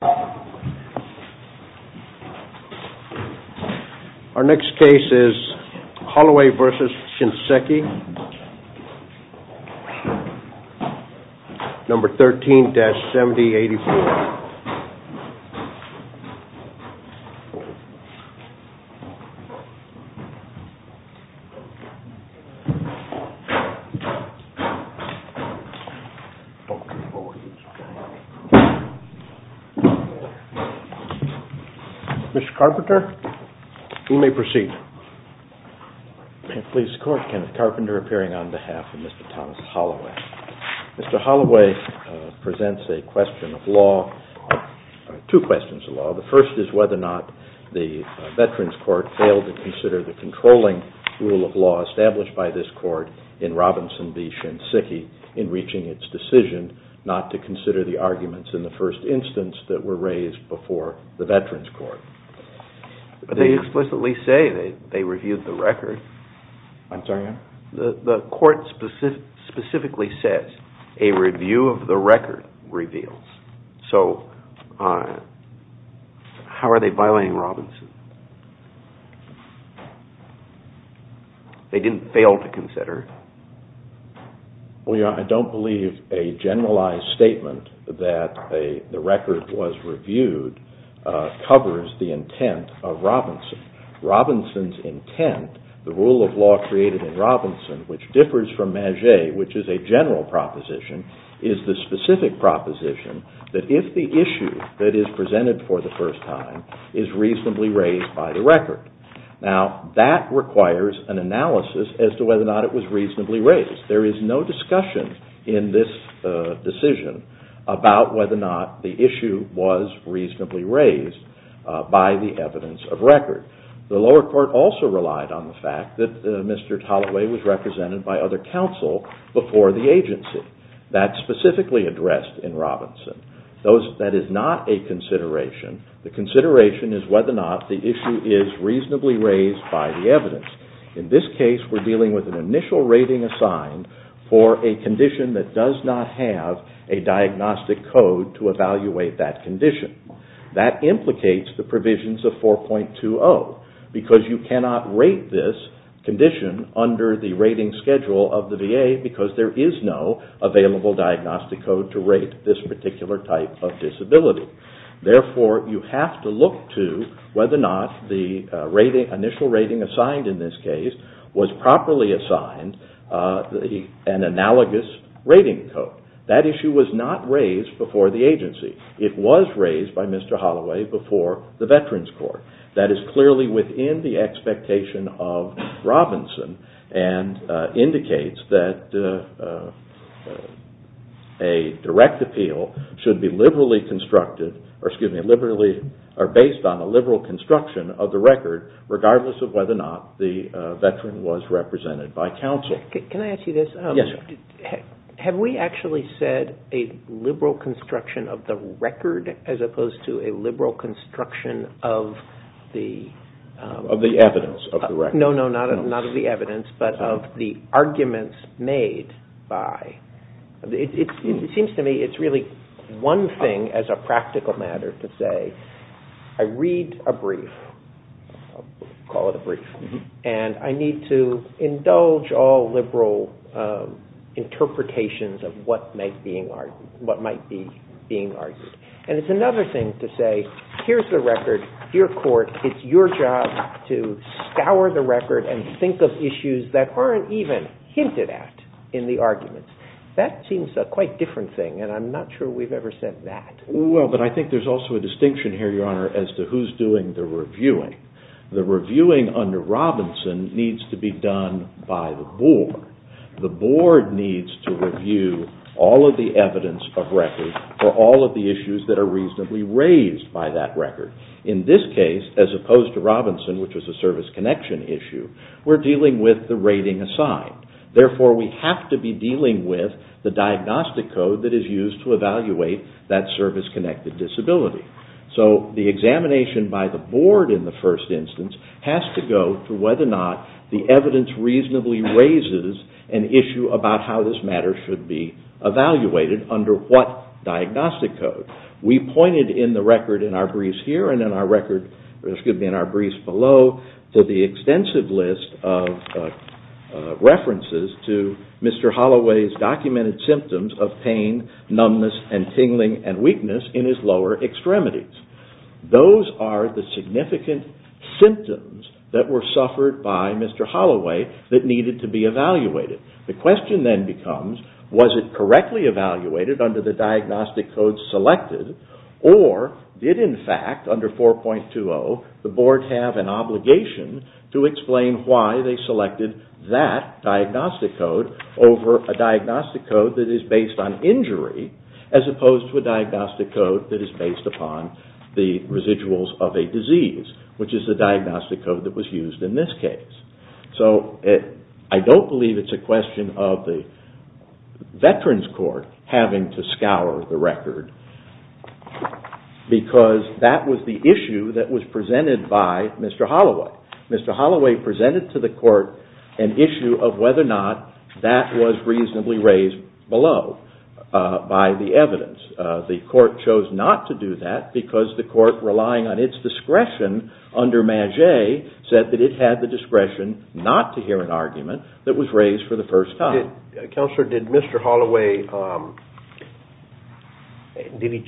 Our next case is Holloway v. Shinseki, number 13-7084. Mr. Carpenter, you may proceed. Please support Kenneth Carpenter appearing on behalf of Mr. Thomas Holloway. Mr. Holloway presents a question of law, two questions of law. The first is whether or not the Veterans Court failed to consider the controlling rule of law established by this court in Robinson v. Shinseki in reaching its decision not to consider the arguments in the first instance that were raised before the Veterans Court. They explicitly say they reviewed the record. I'm sorry? The court specifically says a review of the record reveals. So how are they violating Robinson? They didn't fail to consider it? I don't believe a generalized statement that the record was reviewed covers the intent of Robinson. Robinson's intent, the rule of law created in Robinson, which differs from Maget, which is a general proposition, is the specific proposition that if the issue that is presented for the first time is reasonably raised by the record. Now, that requires an analysis as to whether or not it was reasonably raised. There is no discussion in this decision about whether or not the issue was reasonably raised by the evidence of record. The lower court also relied on the fact that Mr. Holloway was represented by other counsel before the agency. That's specifically addressed in Robinson. That is not a consideration. The consideration is whether or not the issue is reasonably raised by the evidence. In this case, we're dealing with an initial rating assigned for a condition that does not have a diagnostic code to evaluate that condition. That implicates the provisions of 4.20, because you cannot rate this condition under the rating schedule of the VA because there is no available diagnostic code to rate this particular type of disability. Therefore, you have to look to whether or not the initial rating assigned in this case was properly assigned an analogous rating code. That issue was not raised before the agency. It was raised by Mr. Holloway before the Veterans Court. That is clearly within the expectation of Robinson and indicates that a direct appeal should be based on a liberal construction of the record, regardless of whether or not the veteran was represented by counsel. Can I ask you this? Yes. Have we actually said a liberal construction of the record as opposed to a liberal construction of the evidence? No, not of the evidence, but of the arguments made by. It seems to me it's really one thing as a practical matter to say, I read a brief, call it a brief, and I need to indulge all liberal interpretations of what might be being argued. It's another thing to say, here's the record. Your court, it's your job to scour the record and think of issues that aren't even hinted at in the arguments. That seems a quite different thing, and I'm not sure we've ever said that. Well, but I think there's also a distinction here, Your Honor, as to who's doing the reviewing. The reviewing under Robinson needs to be done by the board. The board needs to review all of the evidence of record for all of the issues that are reasonably raised by that record. In this case, as opposed to Robinson, which was a service connection issue, we're dealing with the rating assigned. Therefore, we have to be dealing with the diagnostic code that is used to evaluate that service-connected disability. So the examination by the board in the first instance has to go to whether or not the evidence reasonably raises an issue about how this matter should be evaluated under what diagnostic code. We pointed in the record in our briefs here and in our briefs below to the extensive list of references to Mr. Holloway's documented symptoms of pain, numbness, and tingling and weakness in his lower extremities. Those are the significant symptoms that were suffered by Mr. Holloway that needed to be evaluated. The question then becomes, was it correctly evaluated under the diagnostic code selected, or did, in fact, under 4.20, the board have an obligation to explain why they selected that diagnostic code over a diagnostic code that is based on injury as opposed to a diagnostic code that is based upon the residuals of a disease, which is the diagnostic code that was used in this case. I don't believe it's a question of the Veterans Court having to scour the record, because that was the issue that was presented by Mr. Holloway. Mr. Holloway presented to the court an issue of whether or not that was reasonably raised below by the evidence. The court chose not to do that because the court, relying on its discretion under Maget, said that it had the discretion not to hear an argument that was raised for the first time. Counselor, did Mr. Holloway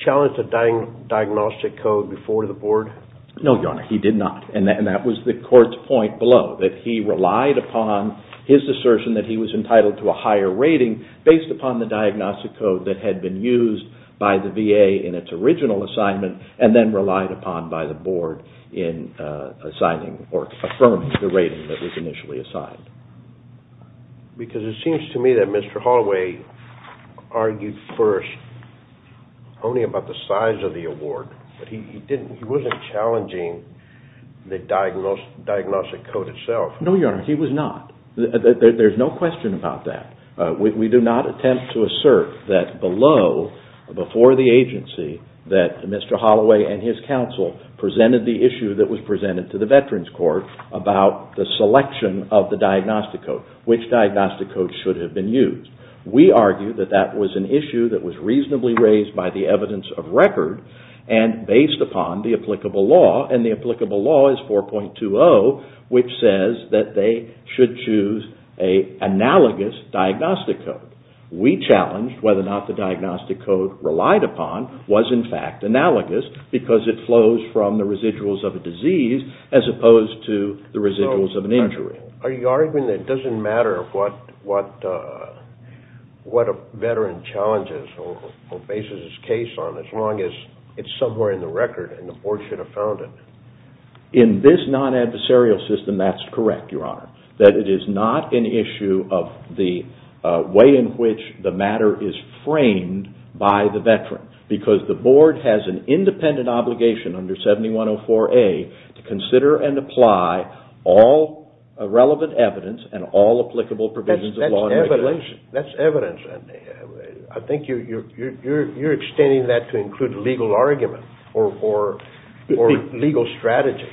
challenge the diagnostic code before the board? No, Your Honor, he did not. That was the court's point below, that he relied upon his assertion that he was entitled to a higher rating based upon the diagnostic code that had been used by the VA in its original assignment and then relied upon by the board in assigning or affirming the rating that was initially assigned. Because it seems to me that Mr. Holloway argued first only about the size of the award. He wasn't challenging the diagnostic code itself. No, Your Honor, he was not. There's no question about that. We do not attempt to assert that below, before the agency, that Mr. Holloway and his counsel presented the issue that was presented to the Veterans Court about the selection of the diagnostic code, which diagnostic code should have been used. We argue that that was an issue that was reasonably raised by the evidence of record and based upon the applicable law, and the applicable law is 4.20, which says that they should choose an analogous diagnostic code. We challenged whether or not the diagnostic code relied upon was in fact analogous because it flows from the residuals of a disease as opposed to the residuals of an injury. Are you arguing that it doesn't matter what a veteran challenges or bases his case on as long as it's somewhere in the record and the board should have found it? In this non-adversarial system, that's correct, Your Honor, that it is not an issue of the way in which the matter is framed by the veteran because the board has an independent obligation under 7104A to consider and apply all relevant evidence and all applicable provisions of law and regulation. That's evidence. I think you're extending that to include legal argument or legal strategy.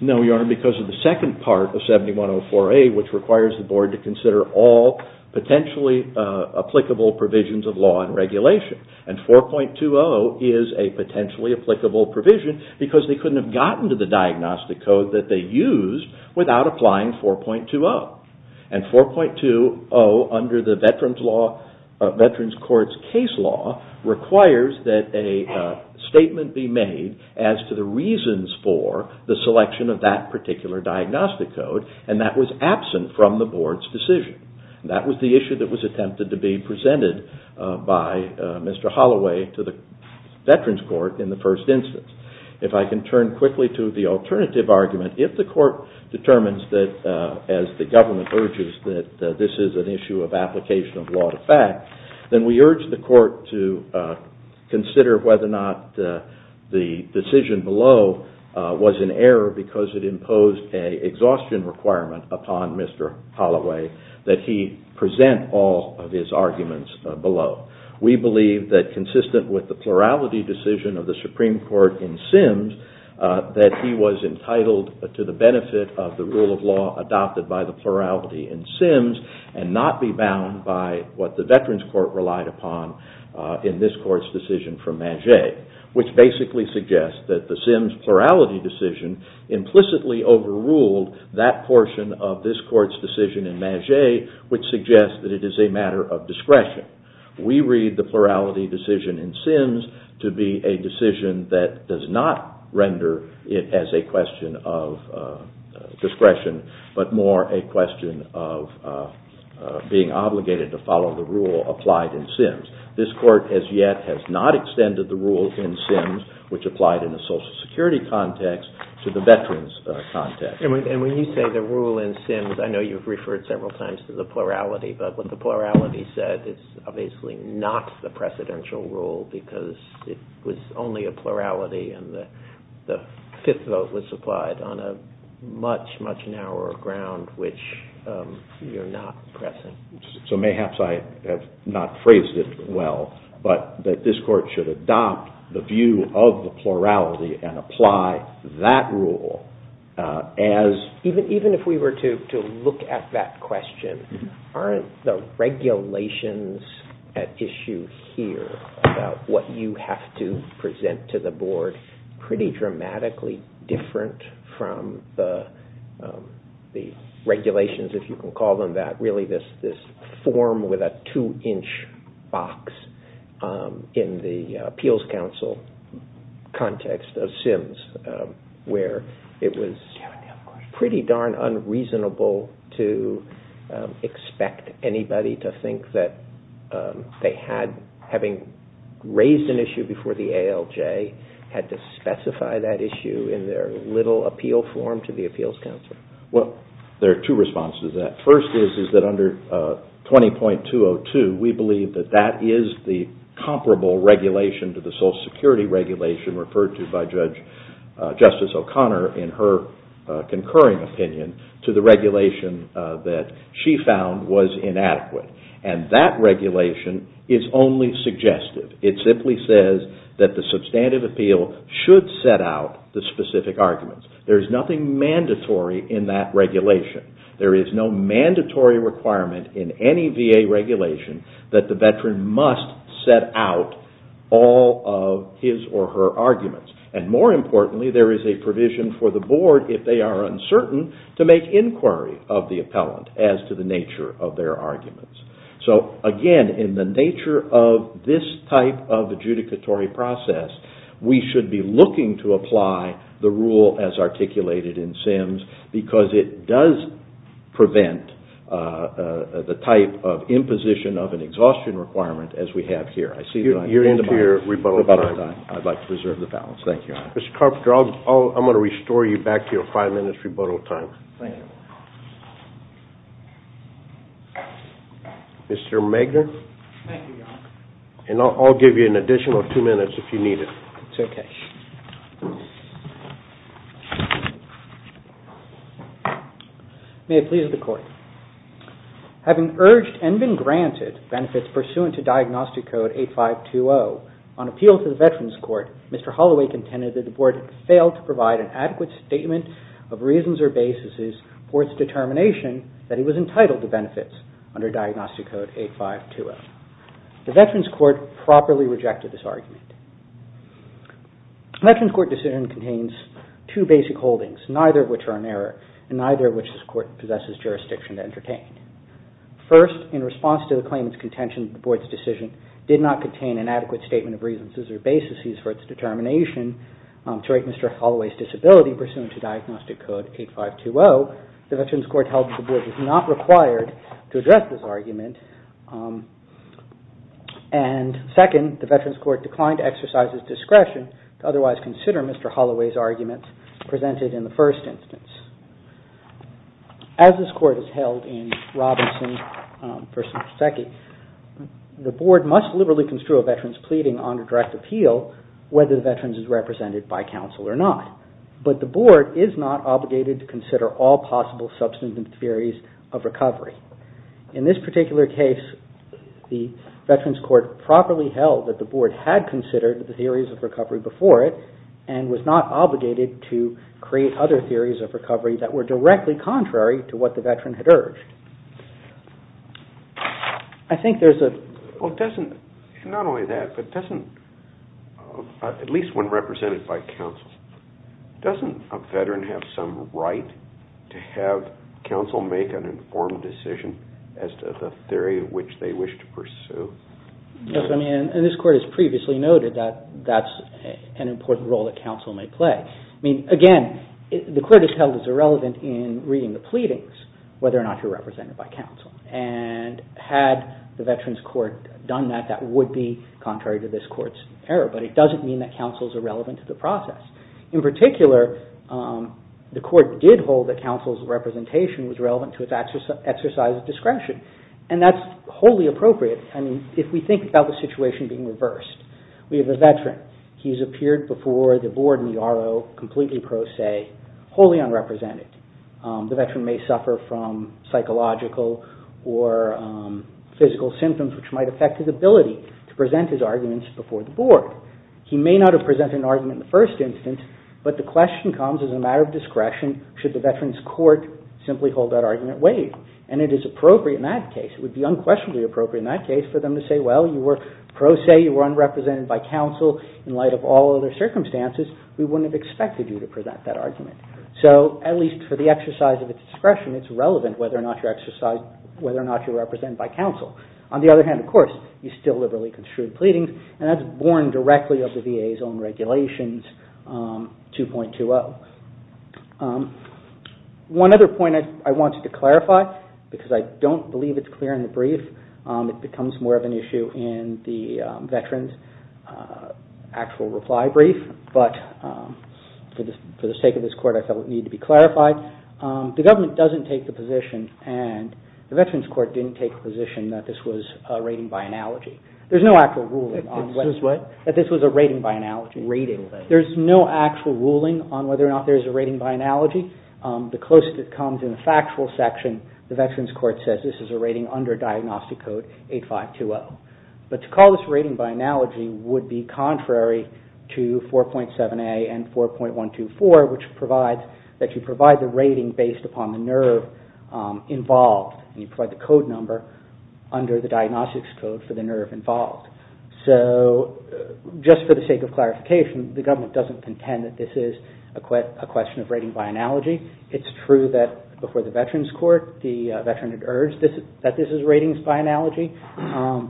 No, Your Honor, because of the second part of 7104A, which requires the board to consider all potentially applicable provisions of law and regulation. And 4.20 is a potentially applicable provision because they couldn't have gotten to the diagnostic code that they used without applying 4.20. And 4.20, under the Veterans Court's case law, requires that a statement be made as to the reasons for the selection of that particular diagnostic code and that was absent from the board's decision. That was the issue that was attempted to be presented by Mr. Holloway to the Veterans Court in the first instance. If I can turn quickly to the alternative argument, if the court determines that, as the government urges, that this is an issue of application of law to fact, then we urge the court to consider whether or not the decision below was in error because it imposed an exhaustion requirement upon Mr. Holloway that he present all of his arguments below. We believe that, consistent with the plurality decision of the Supreme Court in Sims, that he was entitled to the benefit of the rule of law adopted by the plurality in Sims and not be bound by what the Veterans Court relied upon in this court's decision from Magé, which basically suggests that the Sims plurality decision implicitly overruled that portion of this court's decision in Magé, We read the plurality decision in Sims to be a decision that does not render it as a question of discretion, but more a question of being obligated to follow the rule applied in Sims. This court, as yet, has not extended the rule in Sims, which applied in a Social Security context, to the Veterans context. And when you say the rule in Sims, I know you've referred several times to the plurality, but what the plurality said is obviously not the precedential rule because it was only a plurality and the fifth vote was applied on a much, much narrower ground, which you're not pressing. So mayhaps I have not phrased it well, but that this court should adopt the view of the plurality and apply that rule as... Even if we were to look at that question, aren't the regulations at issue here about what you have to present to the board pretty dramatically different from the regulations, if you can call them that, really this form with a two-inch box in the appeals counsel context of Sims, where it was pretty darn unreasonable to expect anybody to think that they had, having raised an issue before the ALJ, had to specify that issue in their little appeal form to the appeals counsel. There are two responses to that. First is that under 20.202, we believe that that is the comparable regulation to the Social Security regulation referred to by Justice O'Connor in her concurring opinion to the regulation that she found was inadequate. And that regulation is only suggestive. It simply says that the substantive appeal should set out the specific arguments. There is nothing mandatory in that regulation. There is no mandatory requirement in any VA regulation that the veteran must set out all of his or her arguments. And more importantly, there is a provision for the board, if they are uncertain, to make inquiry of the appellant as to the nature of their arguments. So again, in the nature of this type of adjudicatory process, we should be looking to apply the rule as articulated in Sims because it does prevent the type of imposition of an exhaustion requirement as we have here. You're into your rebuttal time. I'd like to preserve the balance. Thank you. Mr. Carpenter, I'm going to restore you back to your five minutes rebuttal time. Thank you. Mr. Magner. Thank you, Your Honor. And I'll give you an additional two minutes if you need it. It's okay. May it please the Court. Having urged and been granted benefits pursuant to Diagnostic Code 8520, on appeal to the Veterans Court, Mr. Holloway contended that the board failed to provide an adequate statement of reasons or basis for its determination that he was entitled to benefits under Diagnostic Code 8520. The Veterans Court properly rejected this argument. The Veterans Court decision contains two basic holdings, neither of which are in error and neither of which this court possesses jurisdiction to entertain. First, in response to the claimant's contention that the board's decision did not contain an adequate statement of reasons or basis for its determination to rate Mr. Holloway's disability pursuant to Diagnostic Code 8520, so the Veterans Court held that the board was not required to address this argument. And second, the Veterans Court declined to exercise its discretion to otherwise consider Mr. Holloway's arguments presented in the first instance. As this court has held in Robinson v. Pszczecki, the board must liberally construe a veteran's pleading under direct appeal whether the veteran is represented by counsel or not. But the board is not obligated to consider all possible substantive theories of recovery. In this particular case, the Veterans Court properly held that the board had considered the theories of recovery before it and was not obligated to create other theories of recovery that were directly contrary to what the veteran had urged. I think there's a... Doesn't a veteran have some right to have counsel make an informed decision as to the theory of which they wish to pursue? Yes, I mean, and this court has previously noted that that's an important role that counsel may play. I mean, again, the court has held it's irrelevant in reading the pleadings whether or not you're represented by counsel. And had the Veterans Court done that, that would be contrary to this court's error. But it doesn't mean that counsel's irrelevant to the process. In particular, the court did hold that counsel's representation was relevant to its exercise of discretion. And that's wholly appropriate. I mean, if we think about the situation being reversed. We have a veteran. He's appeared before the board and the RO completely pro se, wholly unrepresented. The veteran may suffer from psychological or physical symptoms which might affect his ability to present his arguments before the board. He may not have presented an argument in the first instance, but the question comes, as a matter of discretion, should the Veterans Court simply hold that argument waived? And it is appropriate in that case. It would be unquestionably appropriate in that case for them to say, well, you were pro se, you were unrepresented by counsel in light of all other circumstances. We wouldn't have expected you to present that argument. So, at least for the exercise of its discretion, it's relevant whether or not you're represented by counsel. On the other hand, of course, you still liberally construed pleadings. And that's born directly of the VA's own regulations, 2.20. One other point I wanted to clarify, because I don't believe it's clear in the brief, it becomes more of an issue in the veterans' actual reply brief, but for the sake of this court, I felt it needed to be clarified. The government doesn't take the position, and the Veterans Court didn't take the position that this was rating by analogy. There's no actual ruling that this was a rating by analogy. There's no actual ruling on whether or not there's a rating by analogy. The closest it comes in the factual section, the Veterans Court says this is a rating under Diagnostic Code 8520. But to call this rating by analogy would be contrary to 4.7a and 4.124, which provides that you provide the rating based upon the nerve involved. And you provide the code number under the Diagnostics Code for the nerve involved. So just for the sake of clarification, the government doesn't contend that this is a question of rating by analogy. It's true that before the Veterans Court, the veteran had urged that this is ratings by analogy,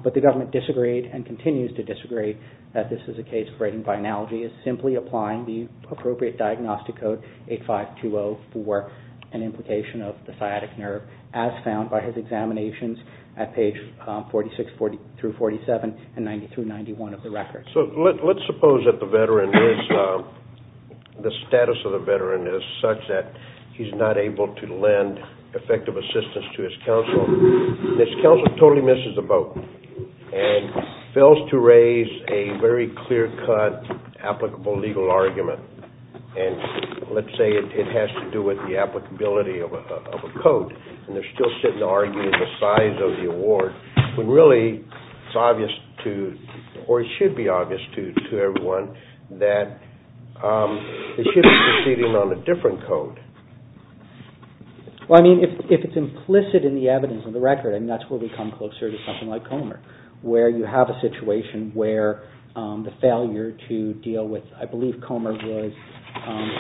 but the government disagreed and continues to disagree that this is a case of rating by analogy. It's simply applying the appropriate Diagnostic Code 8520 for an implication of the sciatic nerve, as found by his examinations at pages 46-47 and 90-91 of the record. So let's suppose that the status of the veteran is such that he's not able to lend effective assistance to his counsel, and his counsel totally misses the boat and fails to raise a very clear-cut, applicable legal argument. And let's say it has to do with the applicability of a code, and they're still sitting arguing the size of the award, when really it's obvious to, or it should be obvious to everyone, that it should be proceeding on a different code. Well, I mean, if it's implicit in the evidence of the record, I mean, that's where we come closer to something like Comer, where you have a situation where the failure to deal with, I believe, Comer was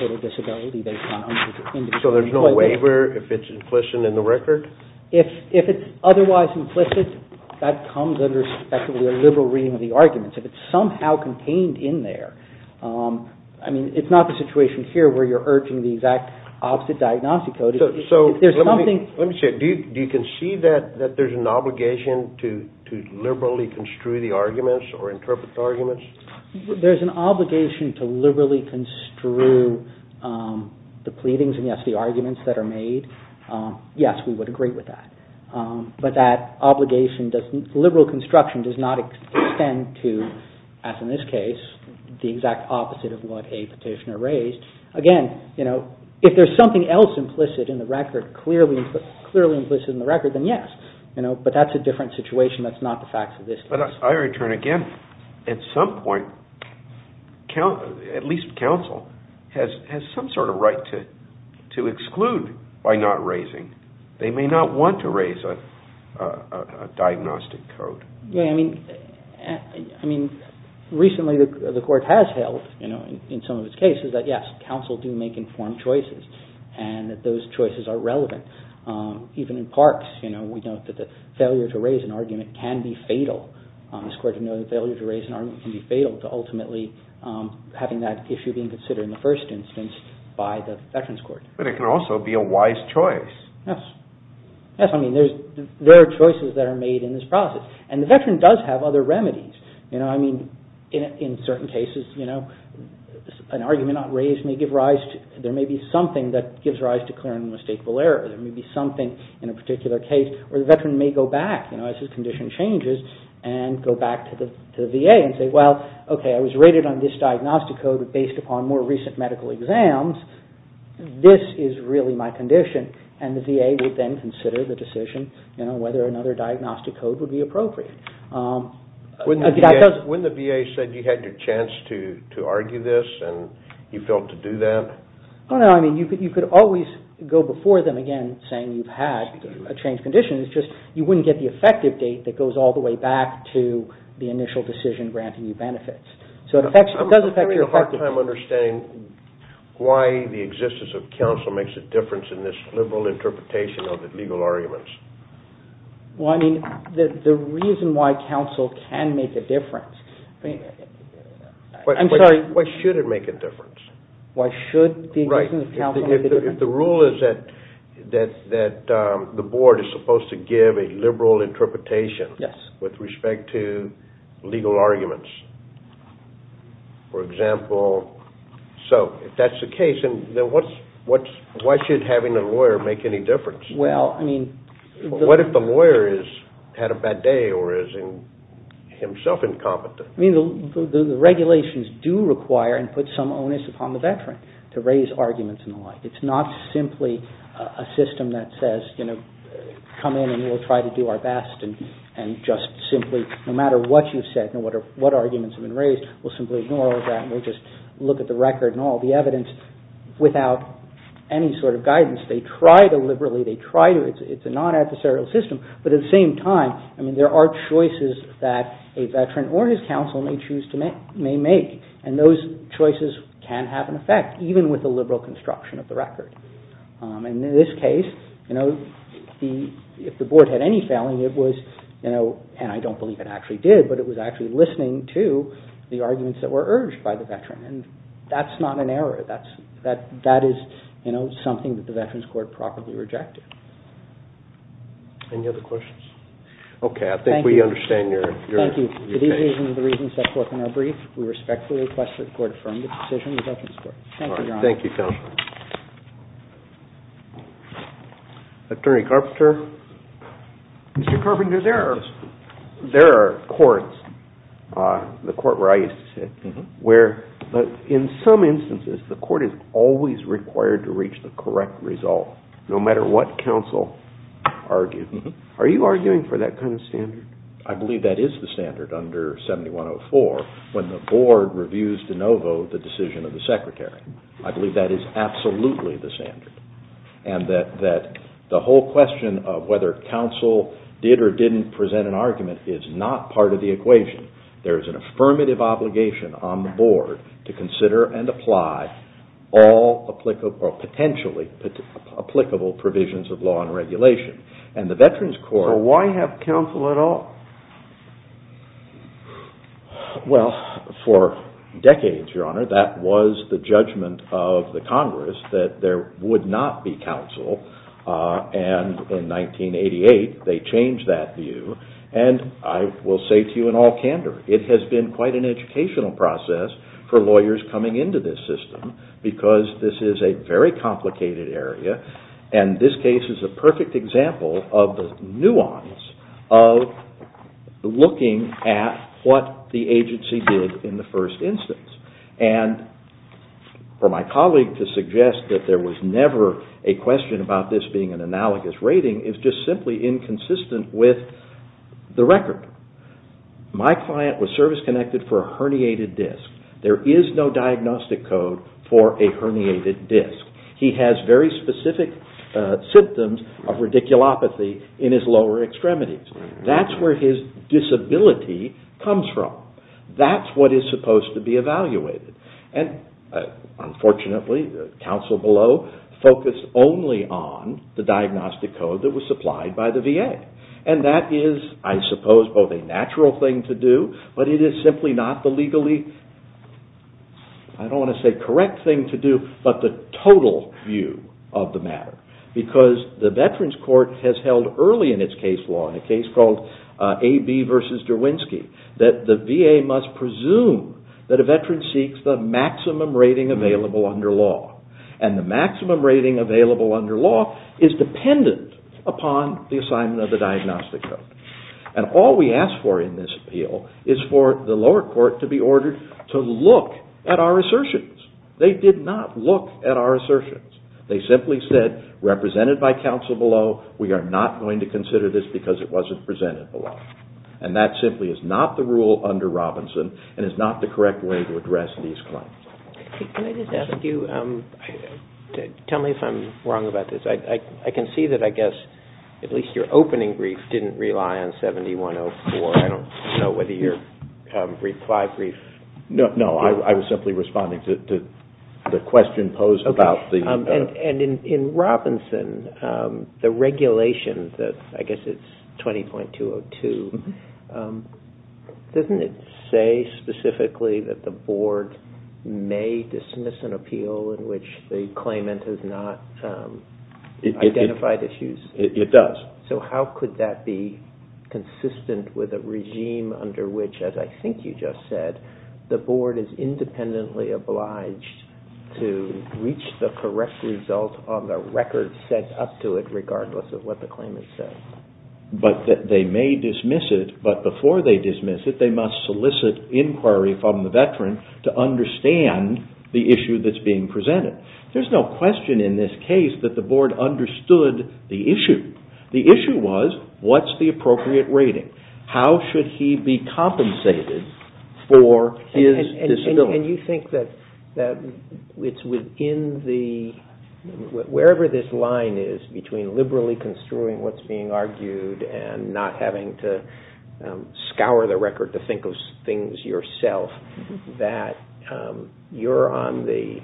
total disability based on unspecified... So there's no waiver if it's implicit in the record? If it's otherwise implicit, that comes under, respectively, a liberal reading of the arguments. If it's somehow contained in there, I mean, it's not the situation here where you're urging the exact opposite Diagnostic Code. Let me say, do you concede that there's an obligation to liberally construe the arguments or interpret the arguments? There's an obligation to liberally construe the pleadings and, yes, the arguments that are made. Yes, we would agree with that. But that obligation, liberal construction, does not extend to, as in this case, the exact opposite of what a petitioner raised. Again, if there's something else implicit in the record, clearly implicit in the record, then yes. But that's a different situation. That's not the facts of this case. But I return again. At some point, at least counsel has some sort of right to exclude by not raising. They may not want to raise a Diagnostic Code. Yeah, I mean, recently the Court has held, in some of its cases, that, yes, counsel do make informed choices and that those choices are relevant. Even in Parks, we note that the failure to raise an argument can be fatal. This Court noted the failure to raise an argument can be fatal to ultimately having that issue being considered in the first instance by the Veterans Court. But it can also be a wise choice. Yes. Yes, I mean, there are choices that are made in this process. And the veteran does have other remedies. You know, I mean, in certain cases, you know, an argument not raised may give rise to, there may be something that gives rise to clear and unmistakable error. There may be something in a particular case where the veteran may go back, you know, as his condition changes, and go back to the VA and say, well, okay, I was rated on this Diagnostic Code based upon more recent medical exams. This is really my condition. And the VA would then consider the decision, you know, whether another Diagnostic Code would be appropriate. When the VA said you had your chance to argue this and you felt to do that? Oh, no, I mean, you could always go before them again saying you've had a changed condition. It's just you wouldn't get the effective date that goes all the way back to the initial decision granting you benefits. So it does affect your effectiveness. I'm having a hard time understanding why the existence of counsel makes a difference in this liberal interpretation of the legal arguments. Well, I mean, the reason why counsel can make a difference. Why should it make a difference? Why should the existence of counsel make a difference? If the rule is that the board is supposed to give a liberal interpretation with respect to legal arguments, for example, so if that's the case, then why should having a lawyer make any difference? Well, I mean... What if the lawyer has had a bad day or is himself incompetent? I mean, the regulations do require and put some onus upon the veteran to raise arguments and the like. It's not simply a system that says, you know, come in and we'll try to do our best and just simply no matter what you've said and what arguments have been raised, we'll simply ignore all of that and we'll just look at the record and all the evidence. Without any sort of guidance, they try to liberally, they try to, it's a non-adversarial system, but at the same time, I mean, there are choices that a veteran or his counsel may choose to make and those choices can have an effect even with the liberal construction of the record. And in this case, you know, if the board had any failing, it was, you know, and I don't believe it actually did, but it was actually listening to the arguments that were urged by the veteran and that's not an error. That is, you know, something that the Veterans Court probably rejected. Any other questions? Okay, I think we understand your case. Thank you. To these reasons and the reasons set forth in our brief, we respectfully request that the Court affirm the decision of the Veterans Court. Thank you, Your Honor. Thank you, counsel. Attorney Carpenter. Mr. Carpenter, there are courts, the court where I used to sit, where in some instances, the court is always required to reach the correct result no matter what counsel argued. Are you arguing for that kind of standard? I believe that is the standard under 7104 when the board reviews de novo the decision of the secretary. I believe that is absolutely the standard and that the whole question of whether counsel did or didn't present an argument is not part of the equation. There is an affirmative obligation on the board to consider and apply all applicable or potentially applicable provisions of law and regulation. So why have counsel at all? Well, for decades, Your Honor, that was the judgment of the Congress that there would not be counsel. And in 1988, they changed that view. And I will say to you in all candor, it has been quite an educational process for lawyers coming into this system because this is a very complicated area and this case is a perfect example of the nuance of looking at what the agency did in the first instance. And for my colleague to suggest that there was never a question about this being an analogous rating is just simply inconsistent with the record. My client was service-connected for a herniated disc. There is no diagnostic code for a herniated disc. He has very specific symptoms of radiculopathy in his lower extremities. That's where his disability comes from. That's what is supposed to be evaluated. And unfortunately, counsel below focused only on the diagnostic code that was supplied by the VA. And that is, I suppose, both a natural thing to do, but it is simply not the legally, I don't want to say correct thing to do, but the total view of the matter. Because the Veterans Court has held early in its case law, in a case called A.B. v. Derwinski, that the VA must presume that a veteran seeks the maximum rating available under law. And the maximum rating available under law is dependent upon the assignment of the diagnostic code. And all we ask for in this appeal is for the lower court to be ordered to look at our assertions. They did not look at our assertions. They simply said, represented by counsel below, we are not going to consider this because it wasn't presented below. And that simply is not the rule under Robinson and is not the correct way to address these claims. Can I just ask you, tell me if I'm wrong about this. I can see that, I guess, at least your opening brief didn't rely on 7104. I don't know whether your reply brief... No, I was simply responding to the question posed about the... And in Robinson, the regulation, I guess it's 20.202, doesn't it say specifically that the board may dismiss an appeal in which the claimant has not identified issues? It does. So how could that be consistent with a regime under which, as I think you just said, the board is independently obliged to reach the correct result on the record set up to it, regardless of what the claimant says? But they may dismiss it, but before they dismiss it, they must solicit inquiry from the veteran to understand the issue that's being presented. There's no question in this case that the board understood the issue. The issue was, what's the appropriate rating? How should he be compensated for his disability? And you think that it's within the... wherever this line is between liberally construing what's being argued and not having to scour the record to think of things yourself, that you're on the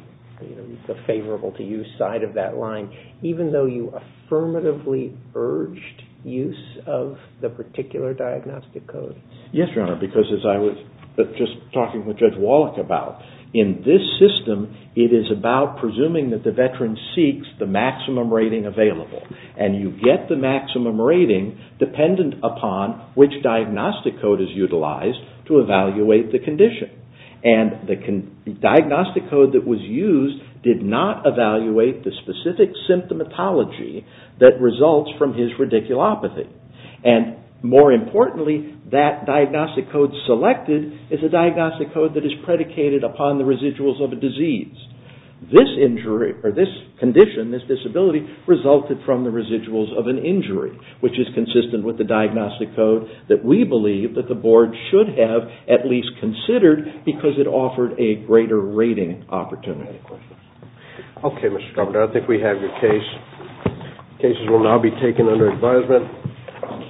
favorable-to-you side of that line, even though you affirmatively urged use of the particular diagnostic code. Yes, Your Honor, because as I was just talking with Judge Wallach about, in this system, it is about presuming that the veteran seeks the maximum rating available. And you get the maximum rating dependent upon which diagnostic code is utilized to evaluate the condition. And the diagnostic code that was used did not evaluate the specific symptomatology that results from his radiculopathy. And more importantly, that diagnostic code selected is a diagnostic code that is predicated upon the residuals of a disease. This condition, this disability, resulted from the residuals of an injury, which is consistent with the diagnostic code that we believe that the board should have at least considered because it offered a greater rating opportunity. Okay, Mr. Governor, I think we have your case. Cases will now be taken under advisement.